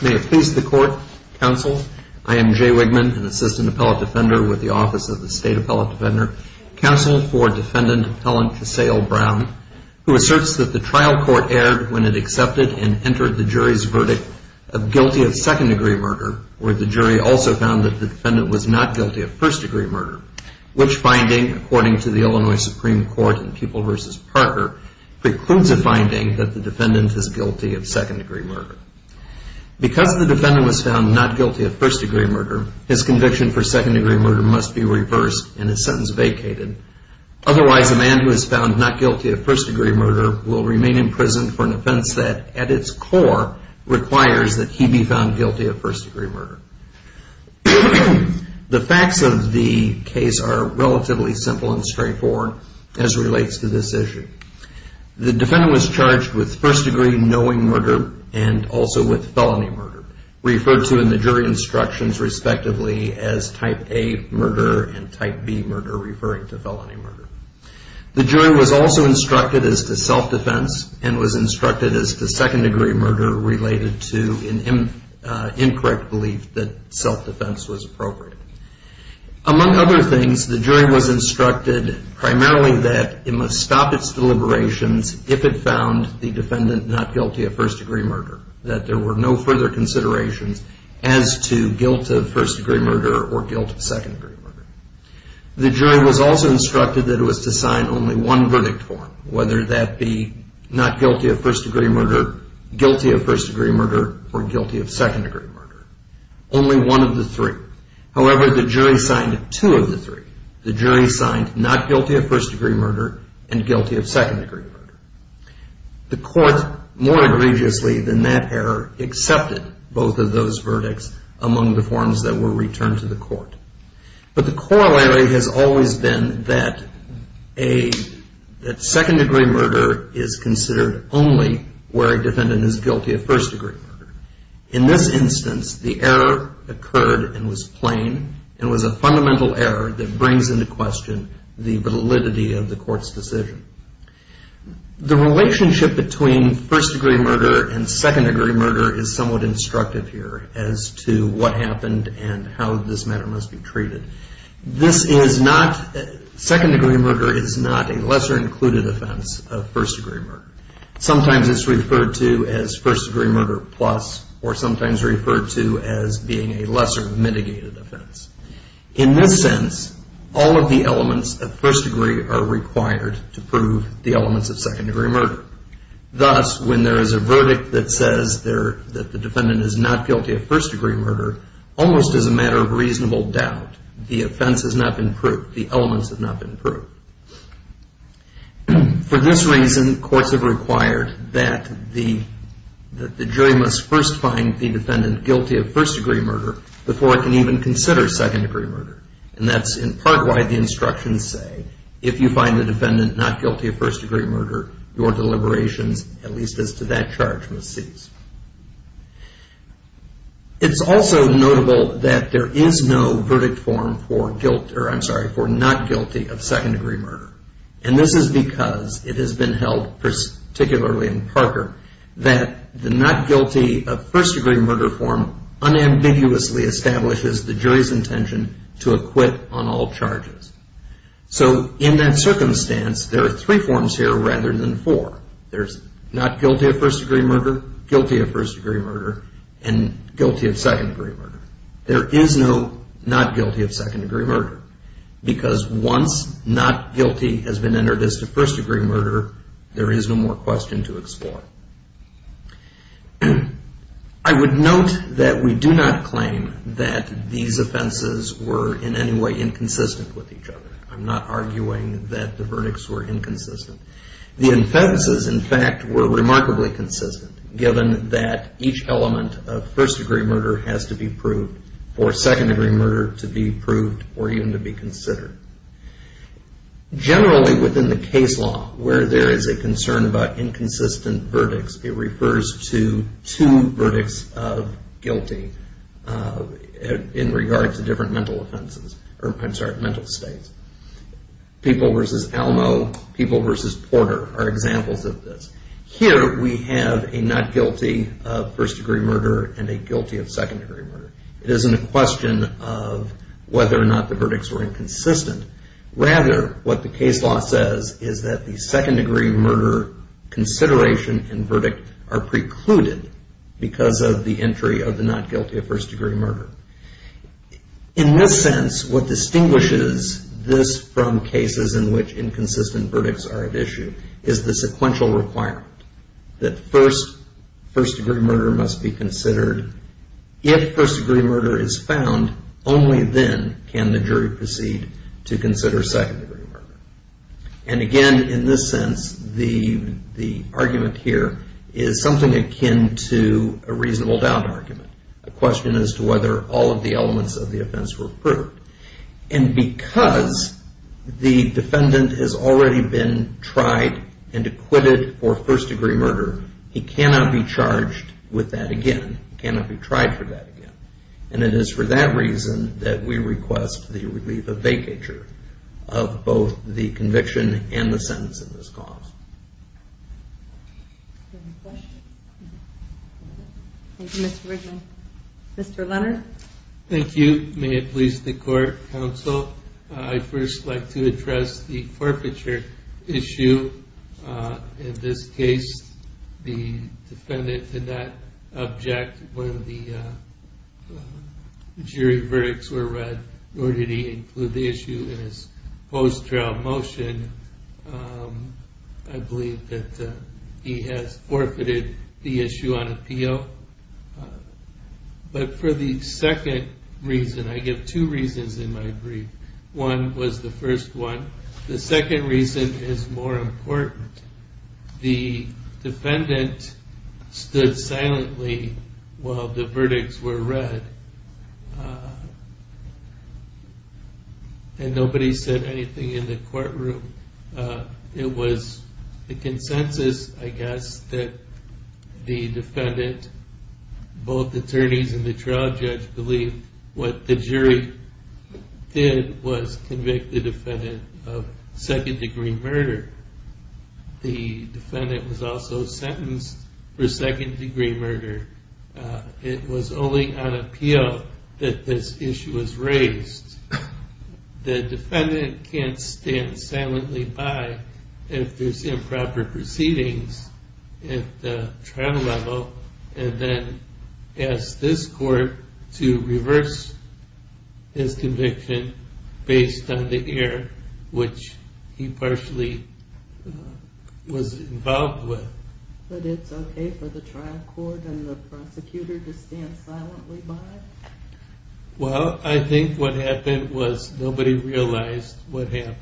May it please the court, counsel, I am Jay Wigman, an assistant appellate defender with the Office of the State Appellate Defender, counsel for defendant appellant Casale Brown, who asserts that the trial court erred when it accepted and entered the jury's verdict of guilty of second-degree murder, where the jury also found that the defendant was not guilty of first-degree murder, which finding, according to the Illinois Supreme Court in Pupil v. Parker, precludes a finding that the defendant is guilty of second-degree murder. Because the defendant was found not guilty of first-degree murder, his conviction for murder must be reversed and his sentence vacated. Otherwise, a man who is found not guilty of first-degree murder will remain in prison for an offense that at its core requires that he be found guilty of first-degree murder. The facts of the case are relatively simple and straightforward as relates to this issue. The defendant was charged with first-degree knowing murder and also with felony murder, referred to in the jury instructions respectively as type A murder and type B murder, referring to felony murder. The jury was also instructed as to self-defense and was instructed as to second-degree murder related to an incorrect belief that self-defense was appropriate. Among other things, the jury was instructed primarily that it must stop its deliberations if it found the defendant not guilty of first-degree murder, that there were no further considerations as to guilt of first-degree murder or guilt of second-degree murder. The jury was also instructed that it was to sign only one verdict form, whether that be not guilty of first-degree murder, guilty of first-degree murder, or guilty of second-degree murder. Only one of the three. However, the jury signed two of the three. The jury signed not guilty of first-degree murder and guilty of second-degree murder. The court, more egregiously than that error, accepted both of those verdicts among the forms that were returned to the court. But the corollary has always been that a second-degree murder is considered only where a defendant is guilty of first-degree murder. In this instance, the error occurred and was plain and was a fundamental error that brings into this decision. The relationship between first-degree murder and second-degree murder is somewhat instructive here as to what happened and how this matter must be treated. This is not, second-degree murder is not a lesser included offense of first-degree murder. Sometimes it's referred to as first-degree murder plus or sometimes referred to as being a lesser mitigated offense. In this sense, all of the elements of first-degree are required to prove the elements of second-degree murder. Thus, when there is a verdict that says that the defendant is not guilty of first-degree murder, almost as a matter of reasonable doubt, the offense has not been proved, the elements have not been proved. For this reason, courts have required that the jury must first find the defendant guilty of first-degree murder before it can even consider second-degree murder. And that's in part why the instructions say if you find the defendant not guilty of first-degree murder, your deliberations, at least as to that charge, must cease. It's also notable that there is no verdict form for not guilty of second-degree murder. And this is because it has been held particularly in Parker that the not guilty of first-degree murder form unambiguously establishes the jury's intention to acquit on all charges. So in that circumstance, there are three forms here rather than four. There's not guilty of first-degree murder, guilty of first-degree murder, and guilty of second-degree murder. There is no not guilty of second-degree murder because once not guilty has been entered as to first-degree murder, there is no more question to explore. I would note that we do not claim that these offenses were in any way inconsistent with each other. I'm not arguing that the verdicts were inconsistent. The offenses, in fact, were remarkably consistent given that each element of first-degree murder has to be proved for second-degree murder to be proved or even to be considered. Generally within the case law where there is a concern about inconsistent verdicts, it refers to two verdicts of guilty in regard to different mental offenses, or I'm sorry, mental states. People versus Alamo, people versus Porter are examples of this. Here we have a not guilty of first-degree murder and a guilty of second-degree murder. It isn't a question of whether or not the verdicts were inconsistent. Rather, what the case law says is that the second-degree murder consideration and verdict are precluded because of the entry of the not guilty of first-degree murder. In this sense, what distinguishes this from cases in which inconsistent verdicts are at issue is the sequential requirement that first-degree murder must be considered. If first-degree murder is found, only then can the jury proceed to consider second-degree murder. Again, in this sense, the argument here is something akin to a reasonable doubt argument, a question as to whether all of the elements of the offense were proved. Because the defendant has already been tried and acquitted for first-degree murder, he cannot be charged with that again, cannot be tried for that again. And it is for that reason that we request the relief of vacatur of both the conviction and the sentence in this cause. Thank you. May it please the Court, Counsel. I'd first like to address the forfeiture issue. In this case, the defendant did not object when the jury verdicts were read, nor did he include the issue in his post-trial motion. I believe that he has forfeited the issue on appeal. But for the second reason, I give two reasons in my brief. One was the first one. The second reason is more important. The defendant stood silently while the verdicts were read, and nobody said anything in the courtroom. It was the consensus, I guess, that the defendant, both attorneys and the trial judge, believe what the jury did was convict the defendant of second-degree murder. The defendant was also sentenced for second-degree murder. It was only on appeal that this issue was raised. The defendant can't stand silently by if there's improper proceedings at the trial level, and then ask this Court to reverse his conviction based on the error, which he partially was involved with. But it's okay for the trial court and the prosecutor to stand silently by? Well, I think what happened was nobody realized what happened.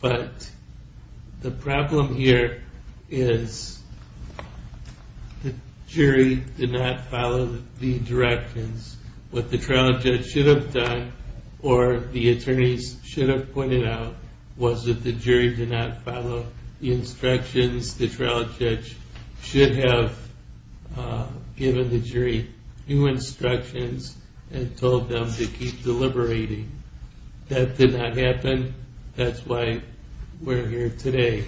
But the problem here is the trial judge should have done, or the attorneys should have pointed out, was that the jury did not follow the instructions. The trial judge should have given the jury new instructions and told them to keep deliberating. That did not happen. That's why we're here today.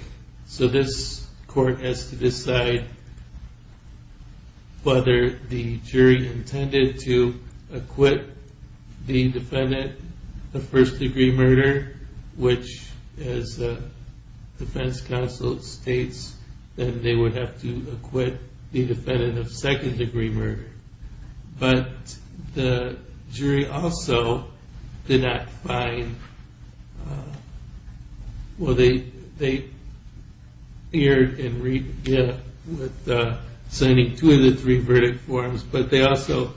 So this Court has to decide whether the jury intended to acquit the defendant of second-degree murder, which, as the defense counsel states, they would have to acquit the defendant of second-degree murder. But the jury also did not find, well, they erred in signing two of the three verdict forms, but they also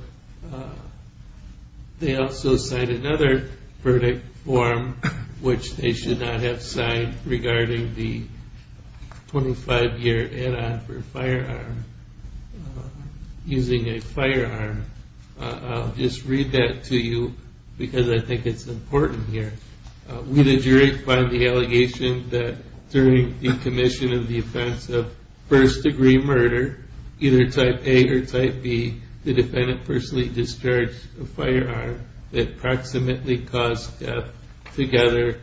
signed another verdict form, which they should not have signed regarding the 25-year add-on for firearm, using a firearm. I'll just read that to you because I think it's important here. We the jury find the allegation that during the commission of the offense of first-degree murder, either type A or type B, the defendant personally discharged a firearm that approximately caused death together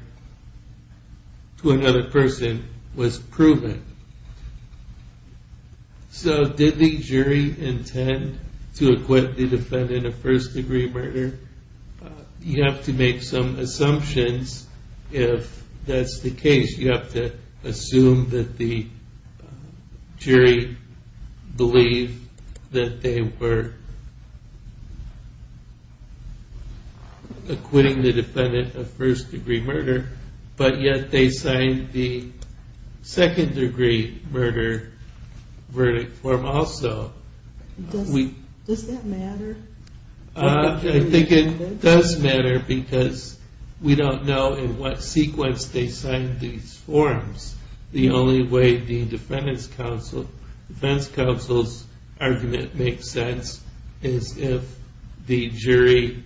to another person was proven. So did the jury intend to acquit the defendant of first-degree murder? You have to make some assumptions if that's the case. You have to assume that the jury believed that they were acquitting the defendant of first-degree murder, but yet they signed the second-degree murder verdict form also. Does that matter? I think it does matter because we don't know in what sequence they signed these verdicts. The only way the defense counsel's argument makes sense is if the jury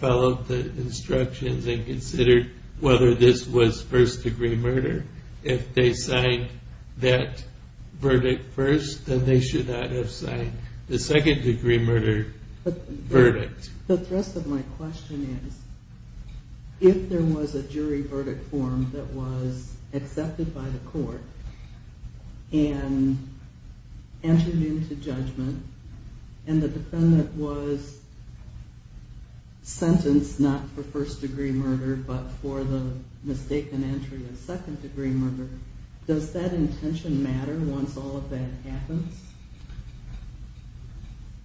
followed the instructions and considered whether this was first-degree murder. If they signed that verdict first, then they should not have signed the second-degree murder verdict. The thrust of my question is, if there was a jury verdict form that was accepted by the court and entered into judgment and the defendant was sentenced not for first-degree murder but for the mistaken entry of second-degree murder, does that intention matter once all of that happens?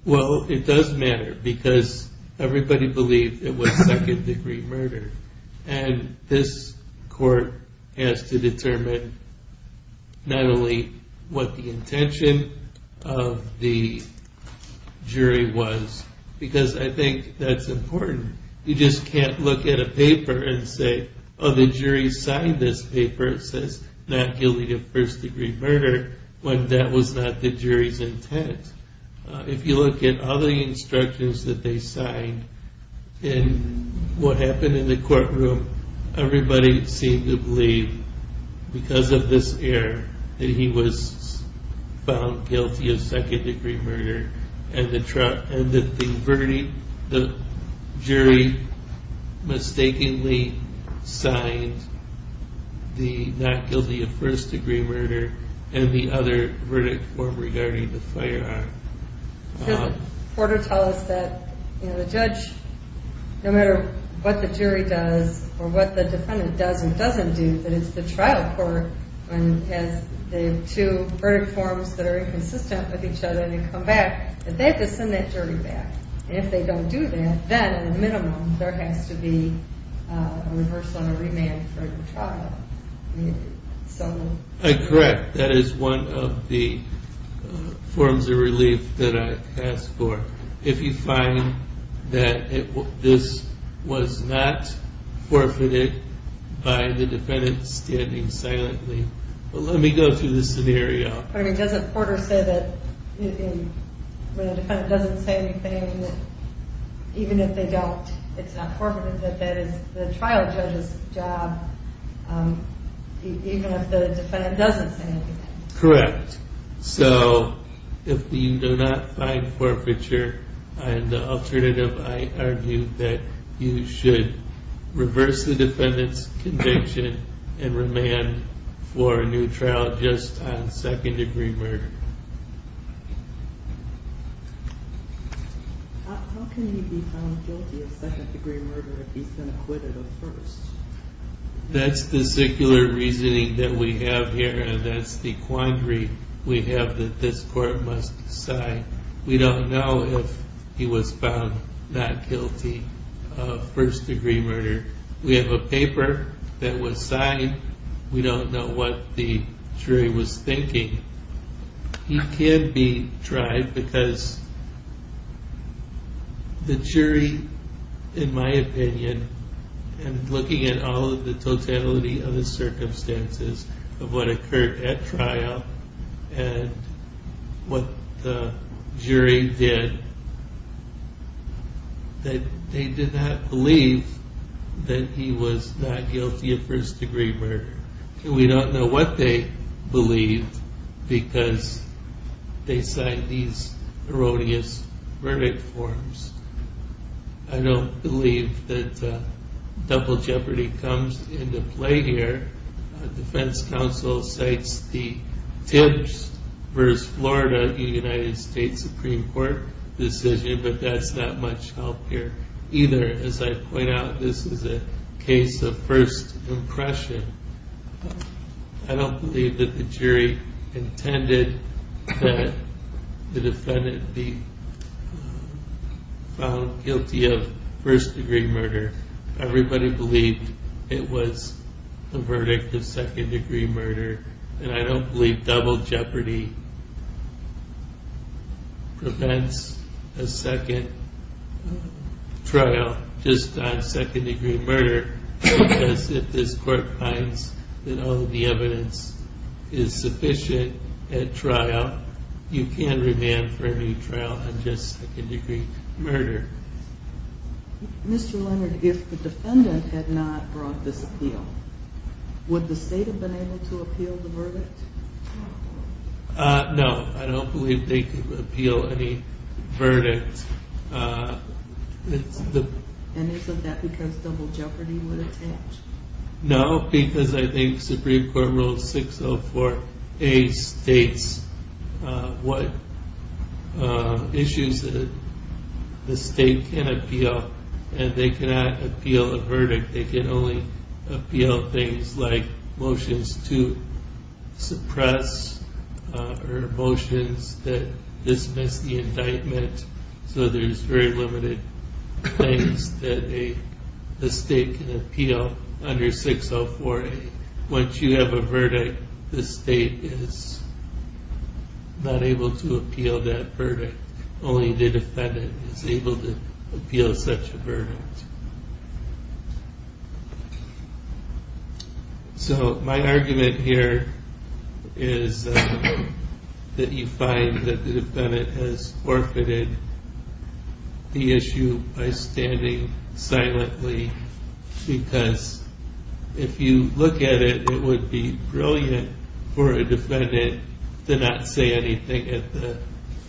Well, it does matter because everybody believed it was second-degree murder, and this court has to determine not only what the intention of the jury was, because I think that's important. You just can't look at a paper and say, oh, the jury signed this paper. It says not guilty of first-degree murder when that was not the jury's intent. If you look at all the instructions that they signed and what happened in the courtroom, everybody seemed to believe, because of this error, that he was found guilty of second-degree murder and that the jury mistakenly signed the not guilty of first-degree murder and the other verdict form regarding the firearm. Doesn't the court tell us that the judge, no matter what the jury does or what the defendant does and doesn't do, that it's the trial court that has the two verdict forms that are inconsistent with each other and they come back, that they have to send that jury back. And if they don't do that, then at a minimum there has to be a reversal and a remand for the trial. Correct. That is one of the forms of relief that I ask for. If you find that this was not forfeited by the defendant standing silently, let me go through the scenario. But doesn't Porter say that when the defendant doesn't say anything, even if they don't, it's not forfeited, that that is the trial judge's job, even if the defendant doesn't say anything? Correct. So if you do not find forfeiture, an alternative, I argue that you should reverse the defendant's conviction and remand for a new trial just on second-degree murder. How can he be found guilty of second-degree murder if he's been acquitted of first? That's the secular reasoning that we have here and that's the quandary we have that this court must decide. We don't know if he was found not guilty of first-degree murder. We have a paper that was signed. We don't know what the jury was thinking. He can be tried because the jury, in my opinion, and looking at all of the totality of the circumstances of what occurred at trial and what the jury did, that they did not believe that he was not guilty of first-degree murder. We don't know what they believed because they cite these erroneous verdict forms. I don't believe that double jeopardy comes into play here. The defense counsel cites the Tibbs v. Florida United States Supreme Court decision, but that's not much help here either. As I point out, this is a case of first impression. I don't believe that the jury intended that the defendant be found guilty of first-degree murder. Everybody believed it was the verdict of second-degree murder, and I don't believe double jeopardy prevents a second trial just on second-degree murder because if this court finds that all of the evidence is sufficient at trial, you can remand for a new trial on just second-degree murder. Mr. Leonard, if the defendant had not brought this appeal, would the state have been able to appeal the verdict? No, I don't believe they could appeal any verdict. And isn't that because double jeopardy would attach? No, because I think Supreme Court Rule 604A states what issues the state can appeal, and they cannot appeal a verdict. They can only appeal things like motions to suppress or motions that dismiss the indictment. So there's very limited things that the state can appeal under 604A. Once you have a verdict, the state is not able to appeal that verdict. Only the state can appeal the verdict. So my argument here is that you find that the defendant has forfeited the issue by standing silently because if you look at it, it would be brilliant for a defendant to not say anything at the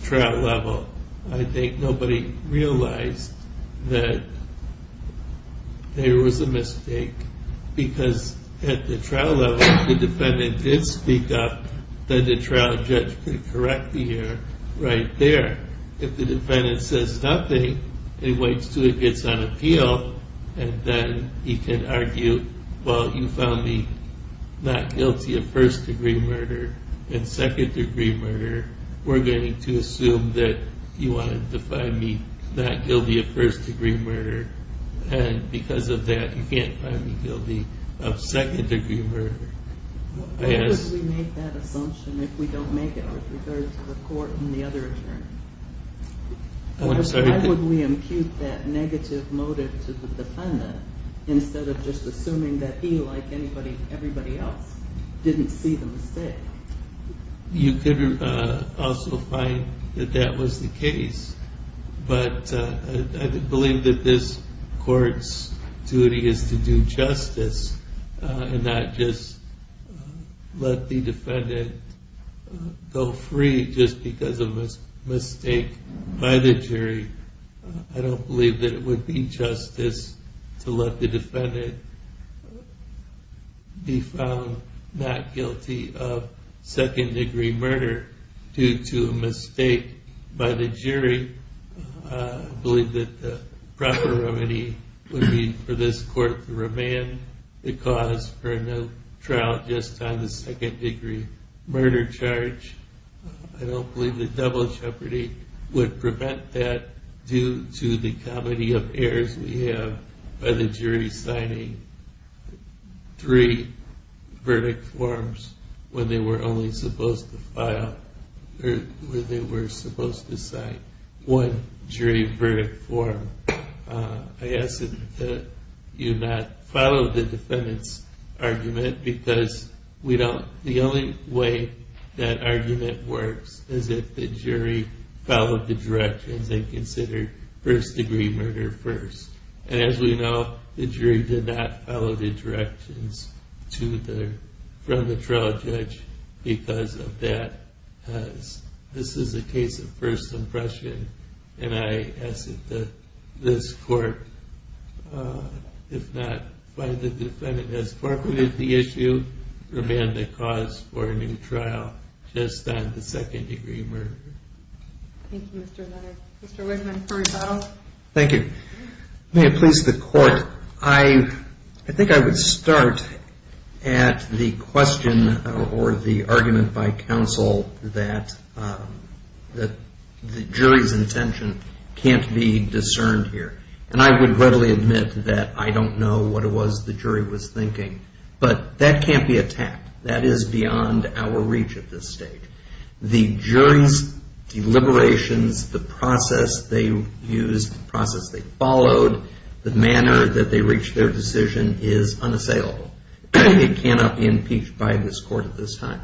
trial level. I think nobody realized that there was a mistake, because at the trial level, if the defendant did speak up, then the trial judge could correct the error right there. If the defendant says nothing, it waits until it gets on appeal, and then he can argue, well, you found me not guilty of first-degree murder and second-degree murder. We're going to assume that you wanted to find me not guilty of first-degree murder, and because of that, you can't find me guilty of second-degree murder. Why would we make that assumption if we don't make it with regard to the court and the other attorney? I'm sorry? Why would we impute that negative motive to the defendant instead of just assuming that he, like everybody else, didn't see the mistake? You could also find that that was the case, but I believe that this court's duty is to the jury. I don't believe that it would be justice to let the defendant be found not guilty of second-degree murder due to a mistake by the jury. I believe that the proper remedy would be for this court to remand the cause for no trial just on the second-degree murder charge. I don't believe that double jeopardy would prevent that due to the comedy of errors we have by the jury signing three verdict forms when they were only supposed to sign one jury verdict form. I ask that you not follow the defendant's argument because the only way that argument works is if the jury followed the directions and considered first-degree murder first. And as we know, the jury did not follow the directions from the trial judge because of that. This is a case of first impression, and I ask that this court, if not find the defendant has forfeited the issue, remand the cause for a new trial just on the second-degree murder. Thank you, Mr. Leonard. Mr. Whitman for rebuttal. Thank you. May it please the court, I think I would start at the question or the argument by counsel that the jury's intention can't be discerned here. And I would readily admit that I don't know what it was the jury was thinking, but that can't be attacked. That is beyond our reach at this stage. The jury's deliberations, the process they used, the process they followed, the manner that they reached their decision is unassailable. It cannot be impeached by this court at this time.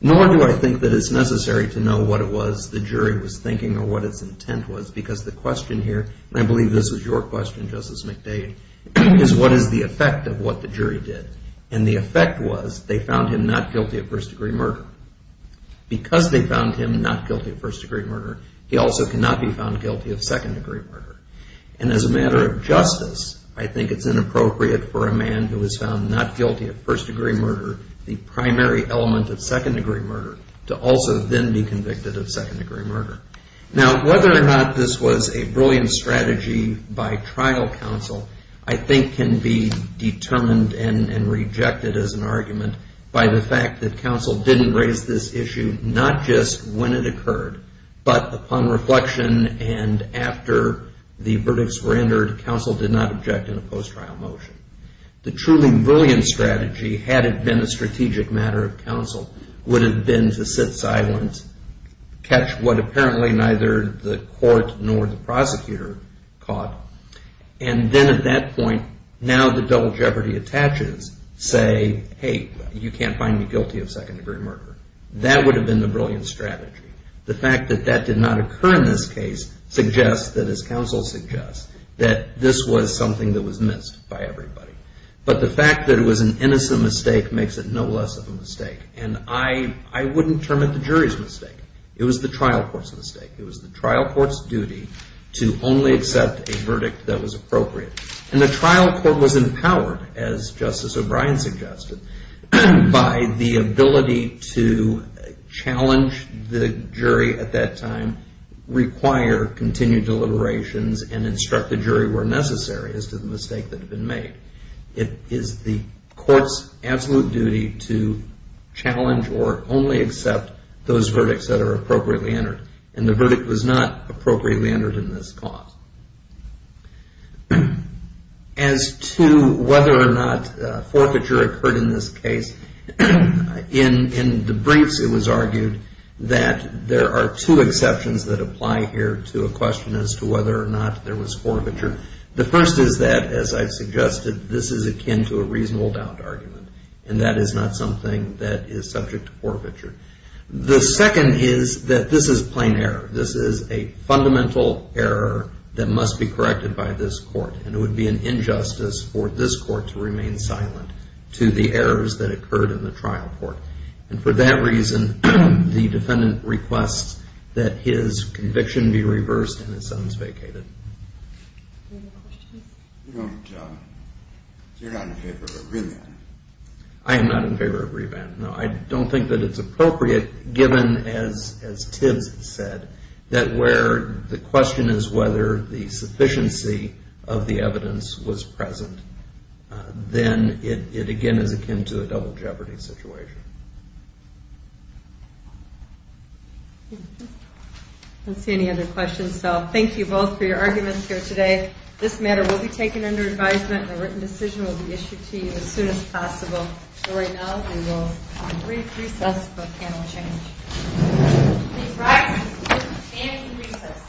Nor do I think that it's necessary to know what it was the jury was thinking or what its intent was because the question here, and I believe this was your question, Justice McDade, is what is the effect of what the jury did? And the effect was they found him not guilty of first-degree murder. Because they found him not guilty of first-degree murder, he also cannot be found guilty of second-degree murder. And as a matter of justice, I think it's inappropriate for a man who is found not guilty of first-degree murder, the primary element of second-degree murder, to also then be convicted of second-degree murder. Now, whether or not this was a brilliant strategy by trial counsel, I think can be determined and rejected as an argument by the fact that counsel didn't raise this issue not just when it occurred, but upon reflection and after the verdicts were entered, counsel did not object in a post-trial motion. The truly brilliant strategy, had it been a strategic matter of counsel, would have been to sit silent, catch what apparently neither the court nor the prosecutor caught, and then at that point, now that double jeopardy attaches, say, hey, you can't find me guilty of second-degree murder. That would have been the brilliant strategy. The fact that that did not occur in this case suggests that, as counsel suggests, that this was something that was missed by And I wouldn't term it the jury's mistake. It was the trial court's mistake. It was the trial court's duty to only accept a verdict that was appropriate. And the trial court was empowered, as Justice O'Brien suggested, by the ability to challenge the jury at that time, require continued deliberations, and instruct the jury where necessary as to the mistake that had been made. It is the court's absolute duty to challenge or only accept those verdicts that are appropriately entered. And the verdict was not appropriately entered in this cause. As to whether or not forfeiture occurred in this case, in the briefs it was argued that there are two exceptions that apply here to a question as to whether or not there was forfeiture. The first is that, as I suggested, this is akin to a reasonable downed argument. And that is not something that is subject to forfeiture. The second is that this is plain error. This is a fundamental error that must be corrected by this court. And it would be an injustice for this court to remain silent to the errors that occurred in the trial court. And for that reason, the defendant requests that his conviction be reversed and his sentence vacated. You're not in favor of revamp. I am not in favor of revamp. No, I don't think that it's appropriate given, as Tibbs said, that where the question is whether the sufficiency of the evidence was present, then it again is akin to a double jeopardy situation. I don't see any other questions, so thank you both for your arguments here today. This matter will be taken under advisement and a written decision will be issued to you as soon as possible. But right now, we will brief recess for panel change. Please rise and stand for recess.